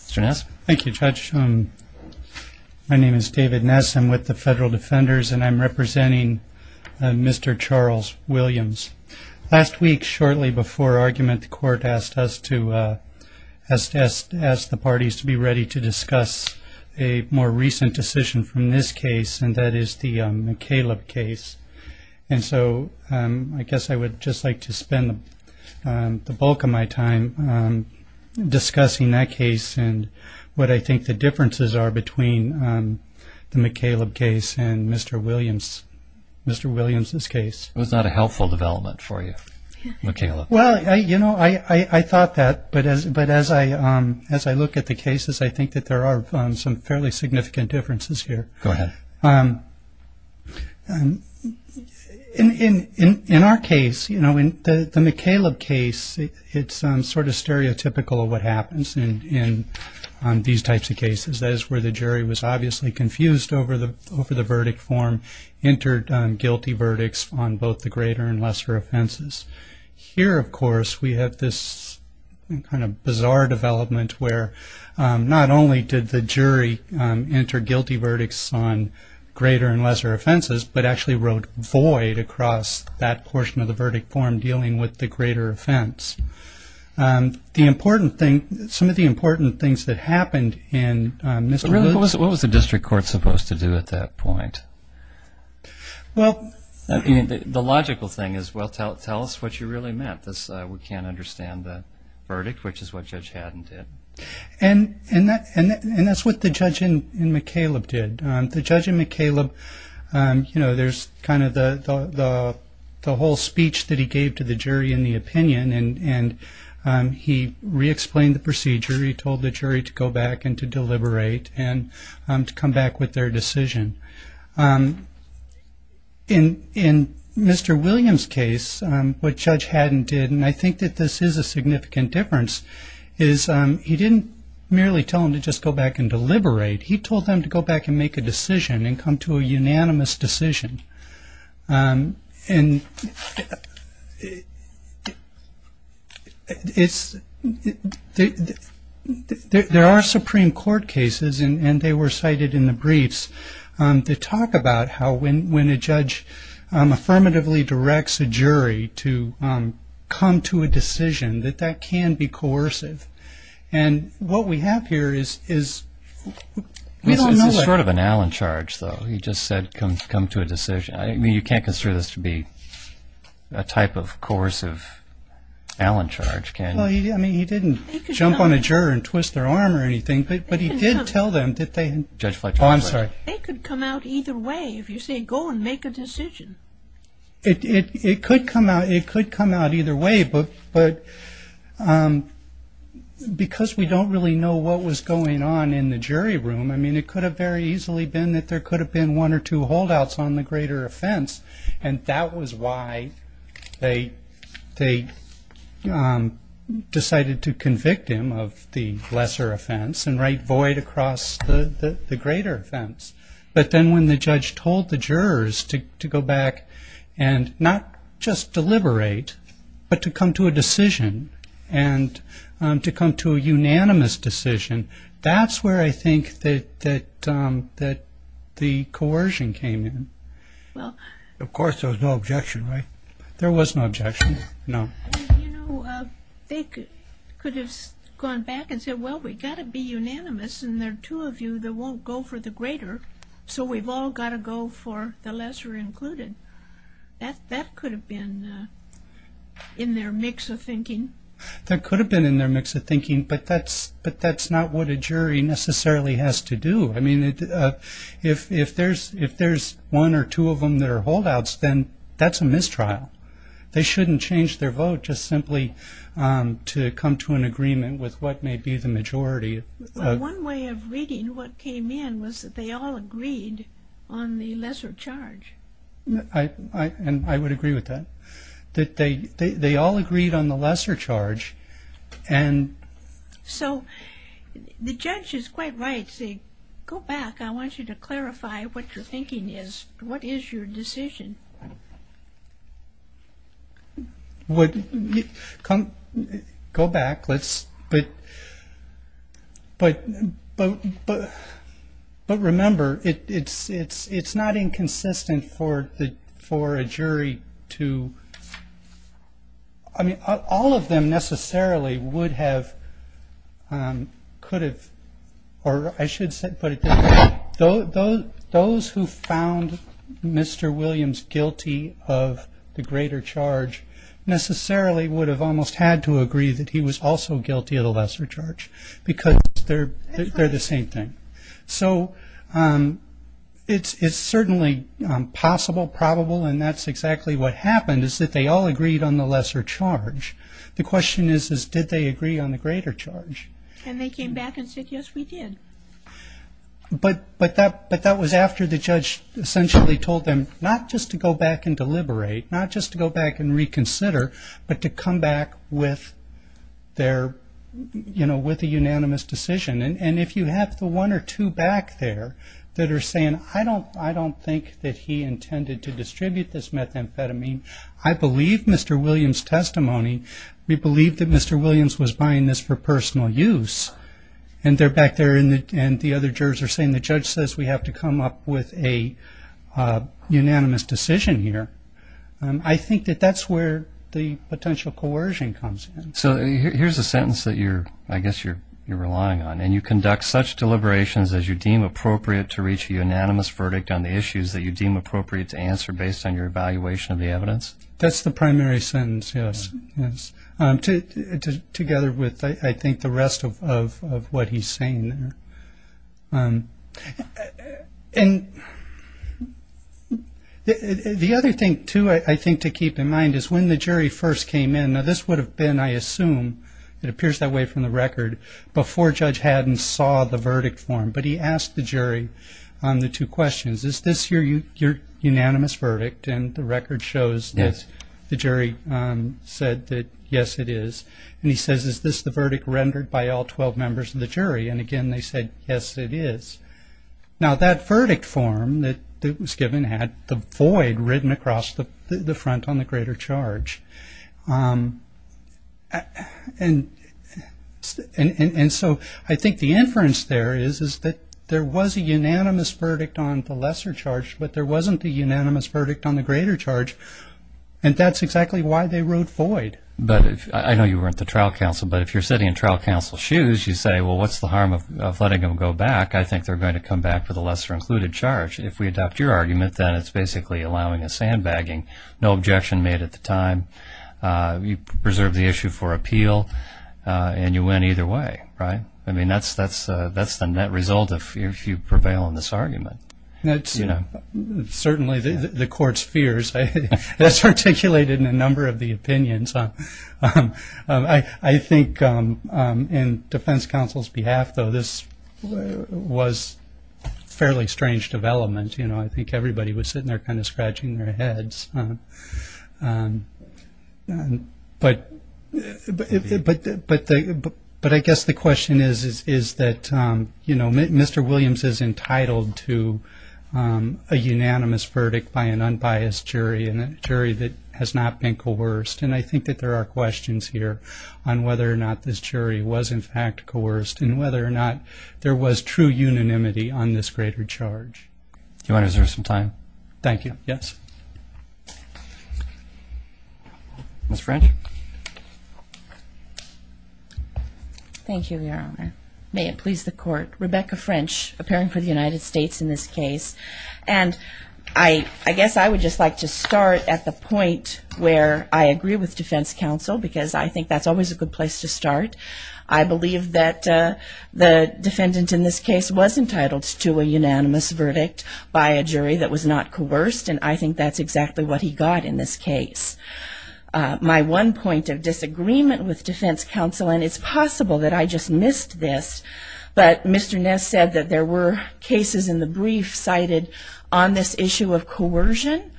Mr. Ness. Thank you, Judge. My name is David Ness. I'm with the Federal Defenders, and I'm representing Mr. Charles Williams. Last week, shortly before argument, the Court asked us to ask the parties to be ready to discuss a more recent decision from this case, and that is the McCaleb case. And so I guess I would just like to spend the bulk of my time discussing that case and what I think the differences are between the McCaleb case and Mr. Williams' case. It was not a helpful development for you, McCaleb. Well, you know, I thought that, but as I look at the cases, I think that there are some fairly significant differences here. Go ahead. In our case, you know, in the McCaleb case, it's sort of stereotypical of what happens in these types of cases. That is where the jury was obviously confused over the verdict form, entered guilty verdicts on both the greater and lesser offenses. Here, of course, we have this kind of bizarre development where not only did the jury enter guilty verdicts on greater and lesser offenses, but actually wrote void across that portion of the verdict form dealing with the greater offense. The important thing, some of the important things that happened in Mr. Williams' case. What was the district court supposed to do at that point? Well. The logical thing is, well, tell us what you really meant. We can't understand the verdict, which is what Judge Haddon did. And that's what the judge in McCaleb did. The judge in McCaleb, you know, there's kind of the whole speech that he gave to the jury in the opinion, and he re-explained the procedure. He told the jury to go back and to deliberate and to come back with their decision. In Mr. Williams' case, what Judge Haddon did, and I think that this is a significant difference, is he didn't merely tell them to just go back and deliberate. He told them to go back and make a decision and come to a unanimous decision. And there are Supreme Court cases, and they were cited in the briefs, that talk about how when a judge affirmatively directs a jury to come to a decision, that that can be coercive. And what we have here is we don't know what. It's sort of an Allen charge, though. He just said come to a decision. I mean, you can't consider this to be a type of coercive Allen charge, can you? Well, I mean, he didn't jump on a juror and twist their arm or anything, but he did tell them that they... Judge Fletcher... Oh, I'm sorry. They could come out either way if you say go and make a decision. It could come out either way, but because we don't really know what was going on in the jury room, I mean, it could have very easily been that there could have been one or two holdouts on the greater offense, and that was why they decided to convict him of the lesser offense and write void across the greater offense. But then when the judge told the jurors to go back and not just deliberate, but to come to a decision and to come to a unanimous decision, that's where I think that the coercion came in. Well... Of course, there was no objection, right? There was no objection, no. You know, they could have gone back and said, well, we've got to be unanimous, and there are two of you that won't go for the greater, so we've all got to go for the lesser included. That could have been in their mix of thinking. That could have been in their mix of thinking, but that's not what a jury necessarily has to do. I mean, if there's one or two of them that are holdouts, then that's a mistrial. They shouldn't change their vote just simply to come to an agreement with what may be the majority. One way of reading what came in was that they all agreed on the lesser charge. I would agree with that, that they all agreed on the lesser charge. So the judge is quite right to say, go back. I want you to clarify what your thinking is. What is your decision? Go back, but remember, it's not inconsistent for a jury to – I mean, all of them necessarily would have, could have, or I should put it this way. Those who found Mr. Williams guilty of the greater charge necessarily would have almost had to agree that he was also guilty of the lesser charge, because they're the same thing. So it's certainly possible, probable, and that's exactly what happened, is that they all agreed on the lesser charge. The question is, did they agree on the greater charge? And they came back and said, yes, we did. But that was after the judge essentially told them not just to go back and deliberate, not just to go back and reconsider, but to come back with their, you know, with a unanimous decision. And if you have the one or two back there that are saying, I don't think that he intended to distribute this methamphetamine, I believe Mr. Williams' testimony, we believe that Mr. Williams was buying this for personal use. And they're back there and the other jurors are saying the judge says we have to come up with a unanimous decision here. I think that that's where the potential coercion comes in. So here's a sentence that you're – I guess you're relying on. And you conduct such deliberations as you deem appropriate to reach a unanimous verdict on the issues that you deem appropriate to answer based on your evaluation of the evidence? That's the primary sentence, yes. Together with, I think, the rest of what he's saying there. The other thing, too, I think to keep in mind is when the jury first came in, now this would have been, I assume, it appears that way from the record, before Judge Haddon saw the verdict form. But he asked the jury the two questions. Is this your unanimous verdict? And the record shows that the jury said that, yes, it is. And he says, is this the verdict rendered by all 12 members of the jury? And, again, they said, yes, it is. Now that verdict form that was given had the void written across the front on the greater charge. And so I think the inference there is that there was a unanimous verdict on the lesser charge, but there wasn't a unanimous verdict on the greater charge. And that's exactly why they wrote void. I know you weren't the trial counsel, but if you're sitting in trial counsel's shoes, you say, well, what's the harm of letting them go back? I think they're going to come back for the lesser included charge. If we adopt your argument, then it's basically allowing a sandbagging. No objection made at the time. You preserve the issue for appeal, and you win either way, right? I mean, that's the net result if you prevail on this argument. Certainly the court's fears. That's articulated in a number of the opinions. I think in defense counsel's behalf, though, this was a fairly strange development. I think everybody was sitting there kind of scratching their heads. But I guess the question is that Mr. Williams is entitled to a unanimous verdict by an unbiased jury, and a jury that has not been coerced. And I think that there are questions here on whether or not this jury was, in fact, coerced and whether or not there was true unanimity on this greater charge. Do you want to reserve some time? Thank you. Yes. Ms. French. Thank you, Your Honor. May it please the Court. Rebecca French, appearing for the United States in this case. And I guess I would just like to start at the point where I agree with defense counsel, because I think that's always a good place to start. I believe that the defendant in this case was entitled to a unanimous verdict by a jury that was not coerced, and I think that's exactly what he got in this case. My one point of disagreement with defense counsel, and it's possible that I just missed this, but Mr. Ness said that there were cases in the brief cited on this issue of coercion,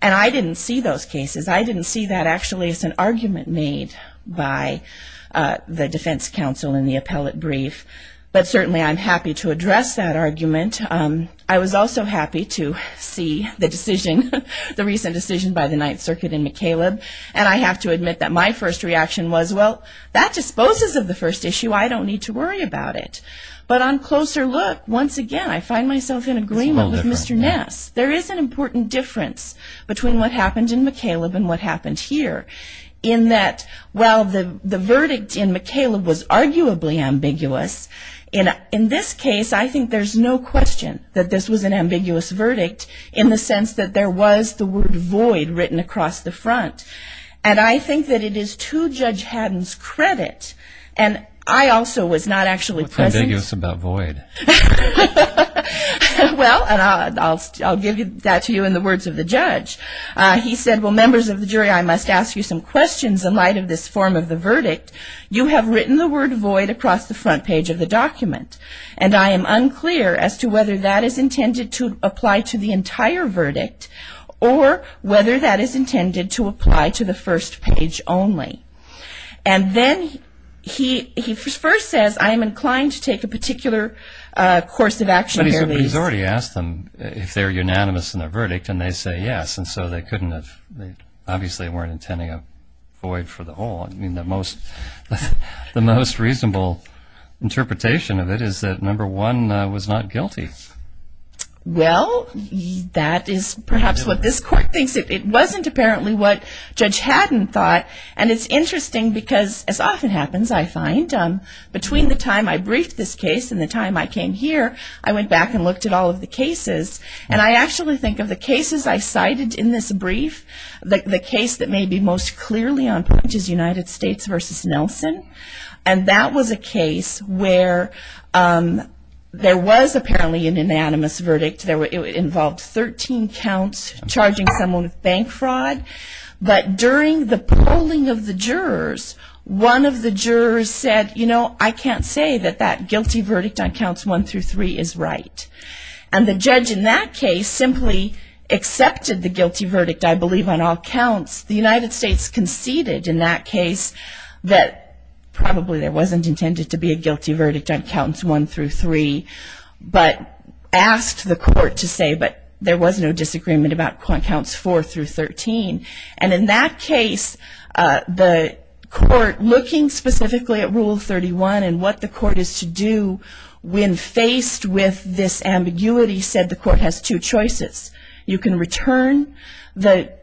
and I didn't see those cases. I didn't see that actually as an argument made by the defense counsel in the appellate brief. But certainly I'm happy to address that argument. I was also happy to see the decision, the recent decision by the Ninth Circuit in McCaleb, and I have to admit that my first reaction was, well, that disposes of the first issue. I don't need to worry about it. But on closer look, once again, I find myself in agreement with Mr. Ness. There is an important difference between what happened in McCaleb and what happened here, in that while the verdict in McCaleb was arguably ambiguous, in this case I think there's no question that this was an ambiguous verdict in the sense that there was the word void written across the front. And I think that it is to Judge Haddon's credit, and I also was not actually present. What's ambiguous about void? Well, and I'll give that to you in the words of the judge. He said, well, members of the jury, I must ask you some questions in light of this form of the verdict. You have written the word void across the front page of the document, and I am unclear as to whether that is intended to apply to the entire verdict or whether that is intended to apply to the first page only. And then he first says, I am inclined to take a particular course of action here. But he's already asked them if they're unanimous in their verdict, and they say yes, and so they couldn't have, obviously they weren't intending a void for the whole. I mean, the most reasonable interpretation of it is that number one was not guilty. Well, that is perhaps what this court thinks. It wasn't apparently what Judge Haddon thought. And it's interesting because, as often happens, I find between the time I briefed this case and the time I came here, I went back and looked at all of the cases, and I actually think of the cases I cited in this brief, the case that may be most clearly on point is United States v. Nelson. And that was a case where there was apparently an unanimous verdict. It involved 13 counts, charging someone with bank fraud. But during the polling of the jurors, one of the jurors said, you know, I can't say that that guilty verdict on counts one through three is right. And the judge in that case simply accepted the guilty verdict, I believe, on all counts. The United States conceded in that case that probably there wasn't intended to be a guilty verdict on counts one through three, but asked the court to say, but there was no disagreement about counts four through 13. And in that case, the court, looking specifically at Rule 31 and what the court is to do when faced with this ambiguity, said the court has two choices. You can return the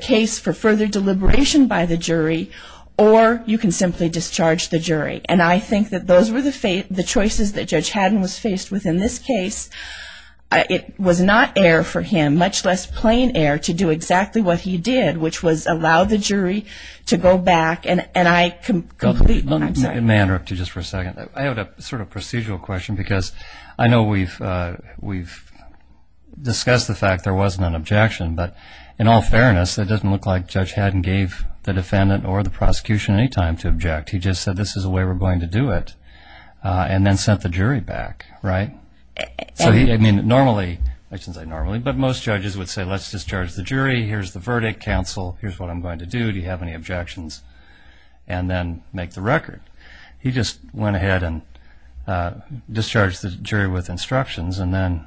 case for further deliberation by the jury, or you can simply discharge the jury. And I think that those were the choices that Judge Haddon was faced with in this case. It was not error for him, much less plain error, to do exactly what he did, which was allow the jury to go back. It may interrupt you just for a second. I have a sort of procedural question, because I know we've discussed the fact there wasn't an objection, but in all fairness, it doesn't look like Judge Haddon gave the defendant or the prosecution any time to object. He just said, this is the way we're going to do it, and then sent the jury back, right? I mean, normally, I shouldn't say normally, but most judges would say, let's discharge the jury, here's the verdict, counsel, here's what I'm going to do, do you have any objections, and then make the record. He just went ahead and discharged the jury with instructions and then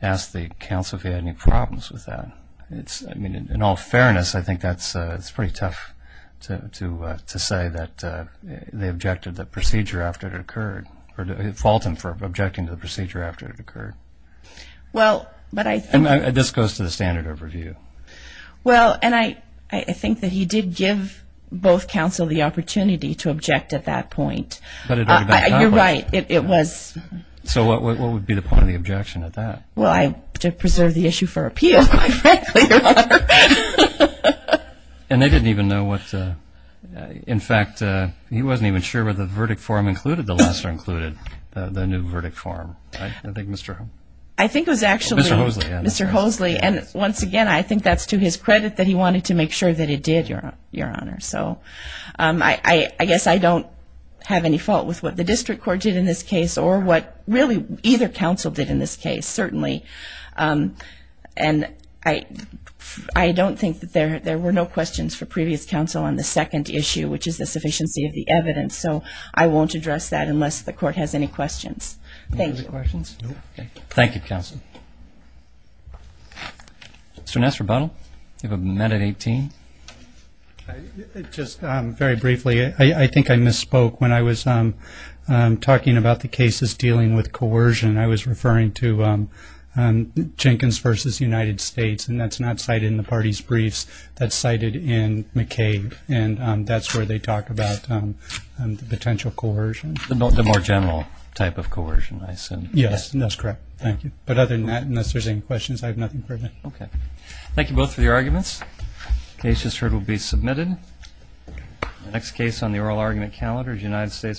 asked the counsel if he had any problems with that. I mean, in all fairness, I think that's pretty tough to say that they objected to the procedure after it occurred, or fault him for objecting to the procedure after it occurred. This goes to the standard overview. Well, and I think that he did give both counsel the opportunity to object at that point. You're right, it was. So what would be the point of the objection at that? Well, to preserve the issue for appeal, quite frankly. And they didn't even know what, in fact, he wasn't even sure whether the verdict form included the lesser included, the new verdict form. I think it was actually Mr. Hoseley, and once again, I think that's to his credit that he wanted to make sure that he did, Your Honor. So I guess I don't have any fault with what the district court did in this case or what really either counsel did in this case, certainly. And I don't think that there were no questions for previous counsel on the second issue, which is the sufficiency of the evidence. So I won't address that unless the court has any questions. Thank you. Thank you, counsel. Mr. Ness, rebuttal? You have a minute, 18. Just very briefly, I think I misspoke when I was talking about the cases dealing with coercion. I was referring to Jenkins v. United States, and that's not cited in the party's briefs, that's cited in McCabe. And that's where they talk about the potential coercion. The more general type of coercion, I assume. Yes, that's correct. Thank you. But other than that, unless there's any questions, I have nothing further. Okay. Thank you both for your arguments. The case just heard will be submitted. The next case on the oral argument calendar is United States v. Anthony.